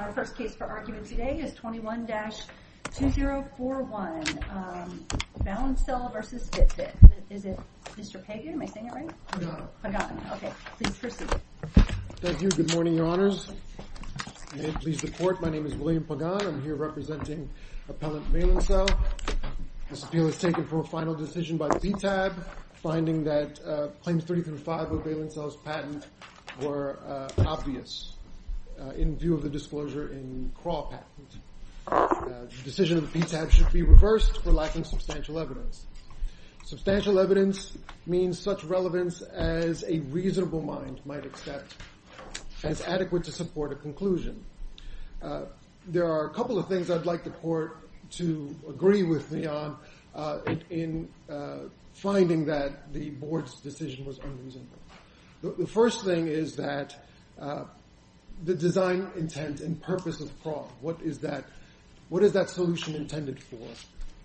Our first case for argument today is 21-2041, Valencell v. Fitbit. Is it Mr. Pagan? Am I saying it right? Pagan. Pagan. Okay. Please proceed. Thank you. Good morning, Your Honors. May it please the Court, my name is William Pagan. I'm here representing Appellant Valencell. This appeal is taken for a final decision by the CTAB, finding that claims 30 through 5 of Valencell's patent were obvious in view of the disclosure in CRAW patent. The decision of the PTAB should be reversed for lacking substantial evidence. Substantial evidence means such relevance as a reasonable mind might accept. And it's adequate to support a conclusion. There are a couple of things I'd like the Court to agree with me on in finding that the Board's decision was unreasonable. The first thing is that the design intent and purpose of CRAW, what is that solution intended for?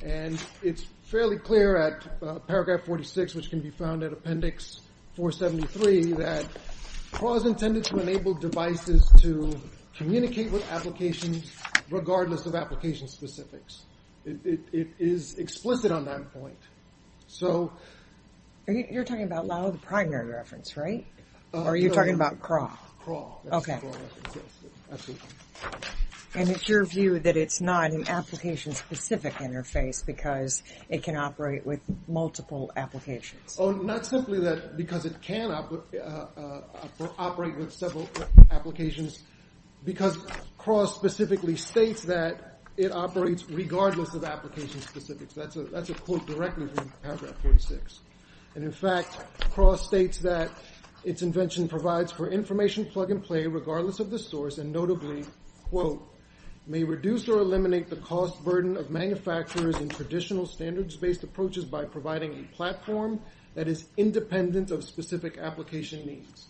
And it's fairly clear at paragraph 46, which can be found at appendix 473, that CRAW is intended to enable devices to communicate with applications regardless of application specifics. It is explicit on that point. So... You're talking about Laue, the primary reference, right? Or are you talking about CRAW? CRAW. Okay. And it's your view that it's not an application-specific interface because it can operate with multiple applications? Oh, not simply that, because it can operate with several applications, because CRAW specifically states that it operates regardless of application specifics. That's a quote directly from paragraph 46. And in fact, CRAW states that its invention provides for information plug-and-play regardless of the source and notably, quote, may reduce or eliminate the cost burden of manufacturers and traditional standards-based approaches by providing a platform that is independent of specific application needs.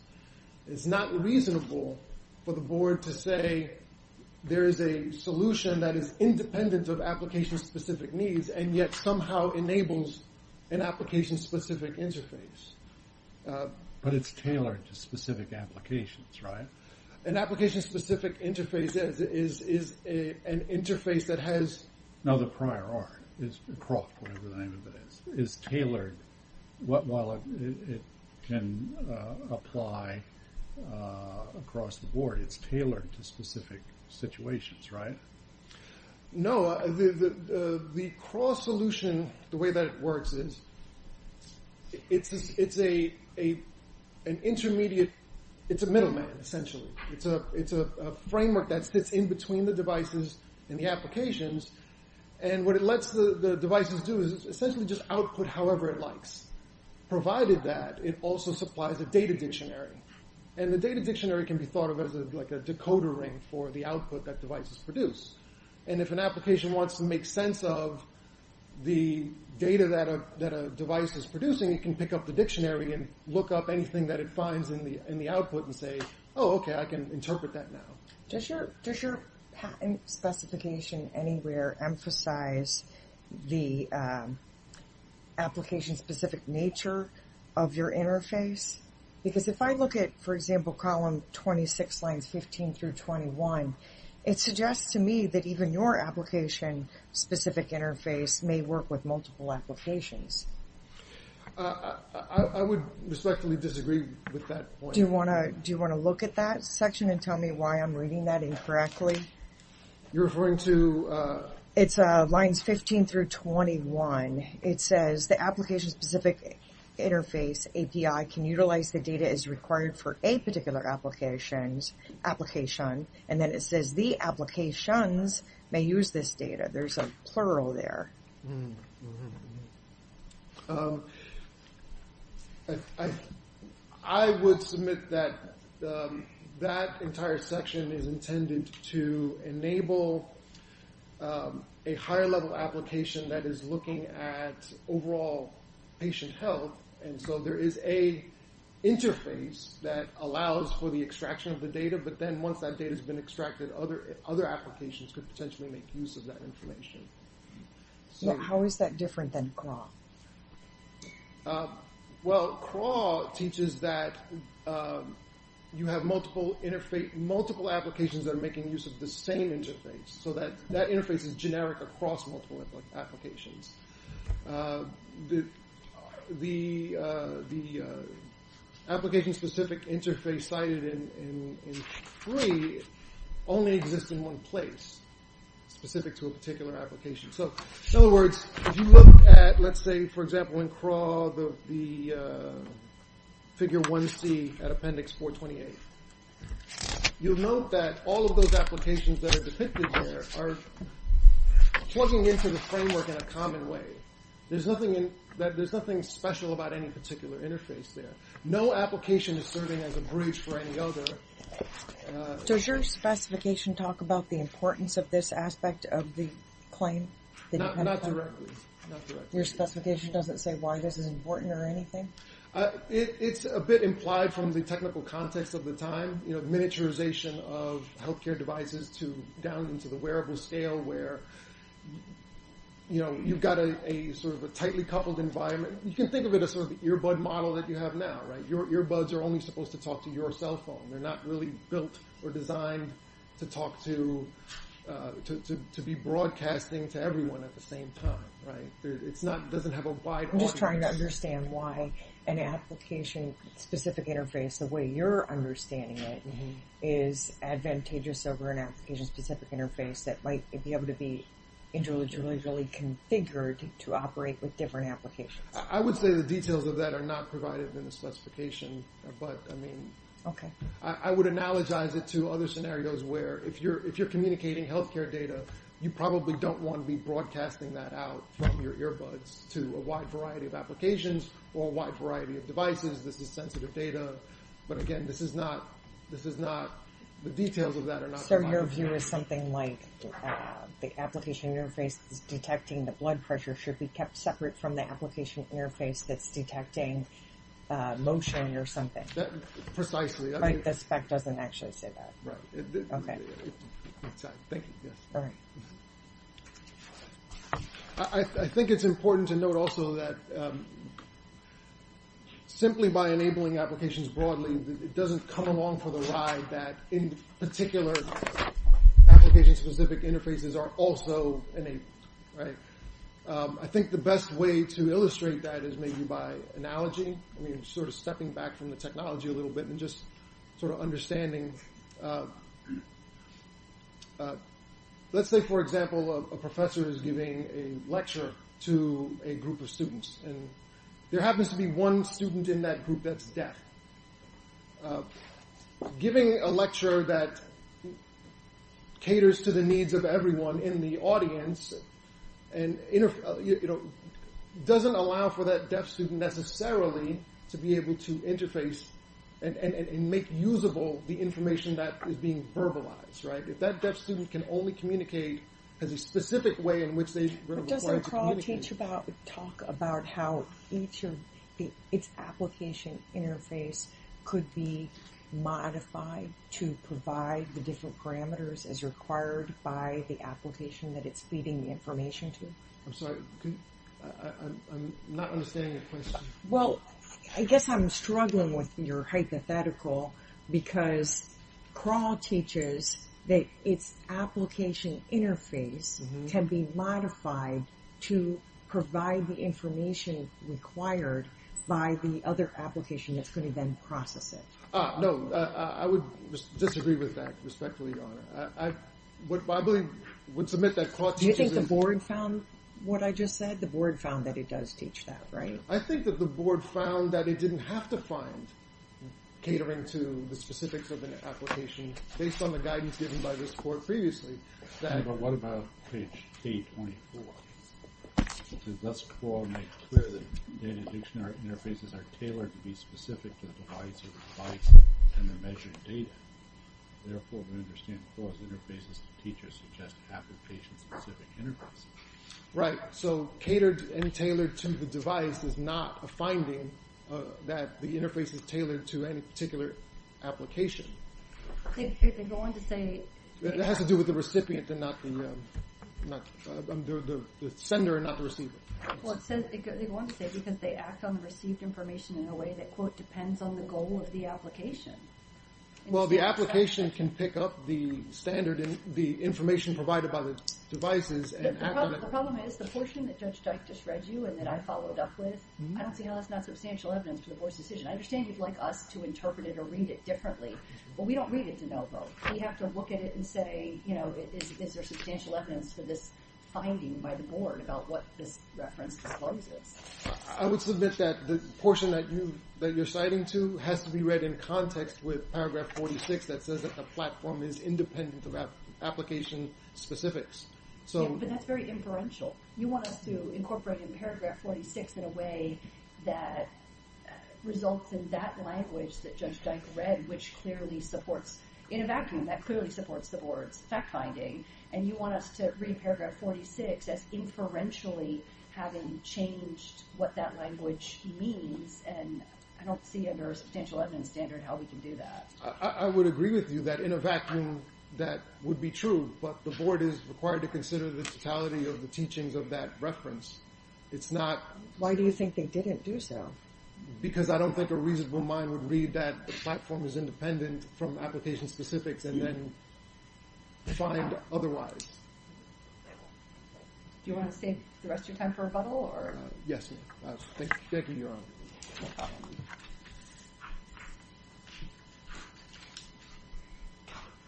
It's not reasonable for the Board to say there is a solution that is independent of application-specific needs, and yet somehow enables an application-specific interface. But it's tailored to specific applications, right? An application-specific interface is an interface that has... No, the prior art is... CRAW, whatever the name of it is, is tailored while it can apply across the Board. It's tailored to specific situations, right? No, the CRAW solution, the way that it works is it's an intermediate... it's a middleman, essentially. It's a framework that sits in between the devices and the applications. And what it lets the devices do is essentially just output however it likes, provided that it also supplies a data dictionary. And the data dictionary can be thought of as like a decoder ring for the output that devices produce. And if an application wants to make sense of the data that a device is producing, it can pick up the dictionary and look up anything that it finds in the output and say, oh, okay, I can interpret that now. Does your patent specification anywhere emphasize the application-specific nature of your interface? Because if I look at, for example, column 26, lines 15 through 21, it suggests to me that even your application-specific interface may work with multiple applications. I would respectfully disagree with that point. Do you want to look at that section and tell me why I'm reading that incorrectly? You're referring to... It's lines 15 through 21. It says the application-specific interface API can utilize the data as required for a particular application. And then it says the applications may use this data. There's a plural there. I would submit that that entire section is intended to enable a higher-level application that is looking at overall patient health. And so there is a interface that allows for the extraction of the data. But then once that data has been extracted, other applications could potentially make use of that information. How is that different than CRAW? Well, CRAW teaches that you have multiple applications that are making use of the same interface. So that interface is generic across multiple applications. The application-specific interface cited in 3 only exists in one place, specific to a particular application. So in other words, if you look at, let's say, for example, in CRAW, the figure 1C at appendix 428, you'll note that all of those applications that are depicted there are plugging into the framework in a common way. There's nothing special about any particular interface there. No application is serving as a bridge for any other. Does your specification talk about the importance of this aspect of the claim? Not directly. Your specification doesn't say why this is important or anything? It's a bit implied from the technical context of the time. You know, miniaturization of healthcare devices down into the wearable scale where, you know, you've got a sort of a tightly coupled environment. You can think of it as sort of the earbud model that you have now, right? Your earbuds are only supposed to talk to your cell phone. They're not really built or designed to talk to, to be broadcasting to everyone at the same time, right? It doesn't have a wide audience. I'm just trying to understand why an application-specific interface, the way you're understanding it, is advantageous over an application-specific interface that might be able to be individually really configured to operate with different applications. I would say the details of that are not provided in the specification, but, I mean, I would analogize it to other scenarios where if you're communicating healthcare data, you probably don't want to be broadcasting that out from your earbuds to a wide variety of applications or a wide variety of devices. This is sensitive data. But, again, this is not, this is not, the details of that are not provided. So, your view is something like the application interface is detecting the blood pressure should be kept separate from the application interface that's detecting motion or something? Precisely. Right, the spec doesn't actually say that. Right. Okay. Thank you, yes. All right. I think it's important to note also that simply by enabling applications broadly, it doesn't come along for the ride that in particular application-specific interfaces are also enabled. Right. I think the best way to illustrate that is maybe by analogy. I mean, sort of stepping back from the technology a little bit and just sort of understanding. Let's say, for example, a professor is giving a lecture to a group of students. And there happens to be one student in that group that's deaf. Giving a lecture that caters to the needs of everyone in the audience and, you know, doesn't allow for that deaf student necessarily to be able to interface and make usable the information that's being provided. The information that is being verbalized, right? If that deaf student can only communicate as a specific way in which they are required to communicate. But doesn't Kroll talk about how each of its application interface could be modified to provide the different parameters as required by the application that it's feeding the information to? I'm sorry, I'm not understanding your question. Well, I guess I'm struggling with your hypothetical because Kroll teaches that its application interface can be modified to provide the information required by the other application that's going to then process it. Ah, no, I would disagree with that, respectfully, Your Honor. I believe, would submit that Kroll teaches... Do you think the board found what I just said? The board found that it does teach that, right? I think that the board found that it didn't have to find catering to the specifics of an application based on the guidance given by this court previously. But what about page K24? It says, thus Kroll makes clear that data dictionary interfaces are tailored to be specific to the device or device and the measured data. Therefore, to understand Kroll's interfaces, the teacher suggests application-specific interfaces. Right, so catered and tailored to the device is not a finding that the interface is tailored to any particular application. They go on to say... It has to do with the recipient and not the... the sender and not the receiver. Well, it says they go on to say because they act on the received information in a way that, quote, depends on the goal of the application. Well, the application can pick up the standard and the information provided by the devices and... The problem is the portion that Judge Dyke just read you and that I followed up with, I don't see how that's not substantial evidence to the board's decision. I understand you'd like us to interpret it or read it differently, but we don't read it to no vote. We have to look at it and say, you know, is there substantial evidence to this finding by the board about what this reference discloses? I would submit that the portion that you're citing to has to be read in context with paragraph 46 that says that the platform is independent of application specifics. Yeah, but that's very inferential. You want us to incorporate in paragraph 46 in a way that results in that language that Judge Dyke read, which clearly supports... in a vacuum, that clearly supports the board's fact-finding, and you want us to read paragraph 46 as inferentially having changed what that language means, and I don't see under a substantial evidence standard how we can do that. I would agree with you that in a vacuum that would be true, but the board is required to consider the totality of the teachings of that reference. It's not... Why do you think they didn't do so? Because I don't think a reasonable mind would read that the platform is independent from application specifics and then find otherwise. Do you want to save the rest of your time for rebuttal, or... Yes, ma'am. Thank you, Your Honor.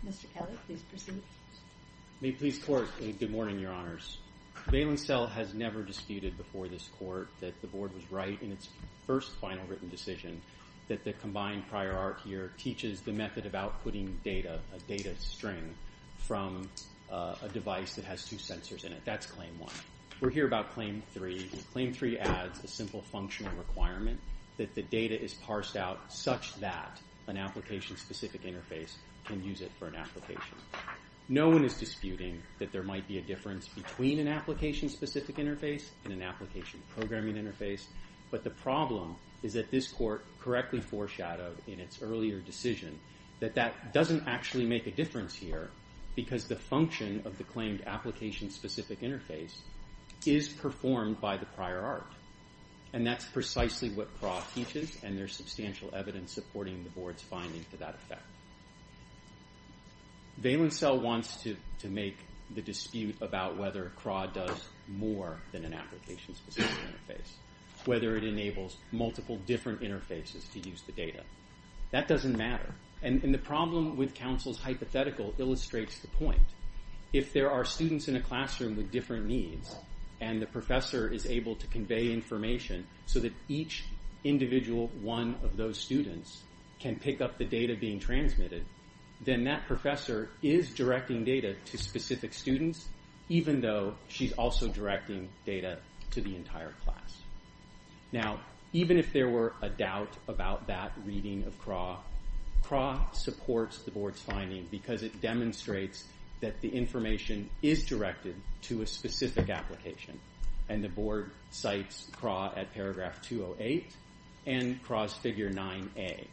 Mr. Keller, please proceed. May it please the Court, good morning, Your Honors. Bail and Sell has never disputed before this Court that the board was right in its first final written decision that the combined prior art here teaches the method of outputting data, a data string, from a device that has two sensors in it. That's Claim 1. We're here about Claim 3. Claim 3 adds a simple functional requirement that the data is parsed out such that an application-specific interface can use it for an application. No one is disputing that there might be a difference between an application-specific interface and an application-programming interface, but the problem is that this Court correctly foreshadowed in its earlier decision that that doesn't actually make a difference here because the function of the claimed application-specific interface is performed by the prior art. And that's precisely what CRAW teaches, and there's substantial evidence supporting the board's finding for that effect. Bail and Sell wants to make the dispute about whether CRAW does more than an application-specific interface, whether it enables multiple different interfaces to use the data. That doesn't matter. And the problem with counsel's hypothetical illustrates the point. If there are students in a classroom with different needs and the professor is able to convey information so that each individual one of those students can pick up the data being transmitted, then that professor is directing data to specific students even though she's also directing data to the entire class. Now, even if there were a doubt about that reading of CRAW, CRAW supports the board's finding because it demonstrates that the information is directed to a specific application, and the board cites CRAW at paragraph 208 and CRAW's figure 9A.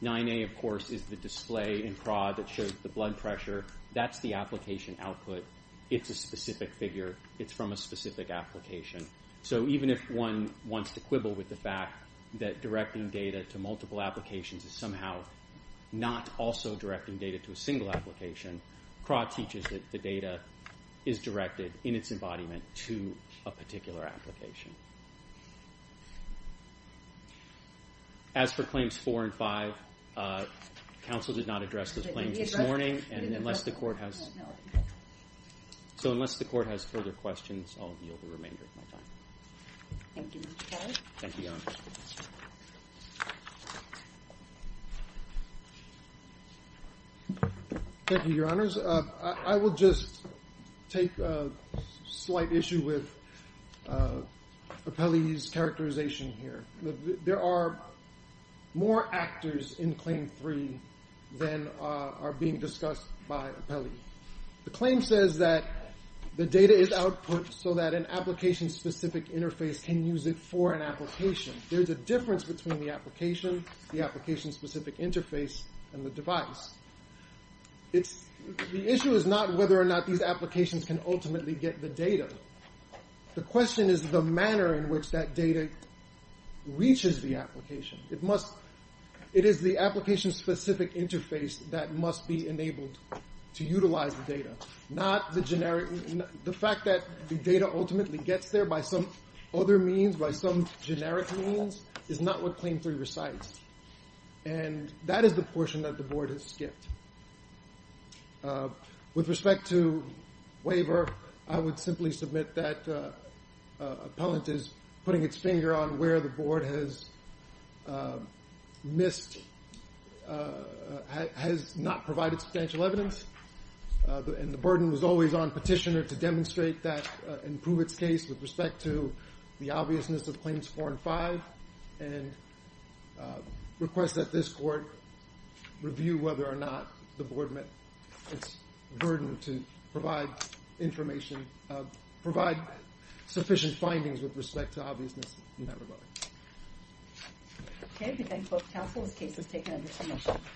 9A, of course, is the display in CRAW that shows the blood pressure. That's the application output. It's a specific figure. It's from a specific application. So even if one wants to quibble with the fact that directing data to multiple applications is somehow not also directing data to a single application, CRAW teaches that the data is directed in its embodiment to a particular application. As for claims 4 and 5, counsel did not address those claims this morning. So unless the court has further questions, I'll yield the remainder of my time. Thank you, Mr. Kelly. Thank you, Your Honor. Thank you, Your Honors. I will just take a slight issue with Apelli's characterization here. There are more actors in claim 3 than are being discussed by Apelli. The claim says that the data is output so that an application-specific interface can use it for an application. There's a difference between the application, the application-specific interface, and the device. The issue is not whether or not these applications can ultimately get the data. The question is the manner in which that data reaches the application. that must be enabled to utilize the data. The fact that the data ultimately gets there by some other means, by some generic means, is not what claim 3 recites. And that is the portion that the Board has skipped. With respect to waiver, I would simply submit that Appellant is putting its finger on where the Board has missed, has not provided substantial evidence, and the burden was always on Petitioner to demonstrate that and prove its case with respect to the obviousness of claims 4 and 5, and request that this Court review whether or not the Board met its burden to provide information, provide sufficient findings with respect to obviousness in that regard. Thank you.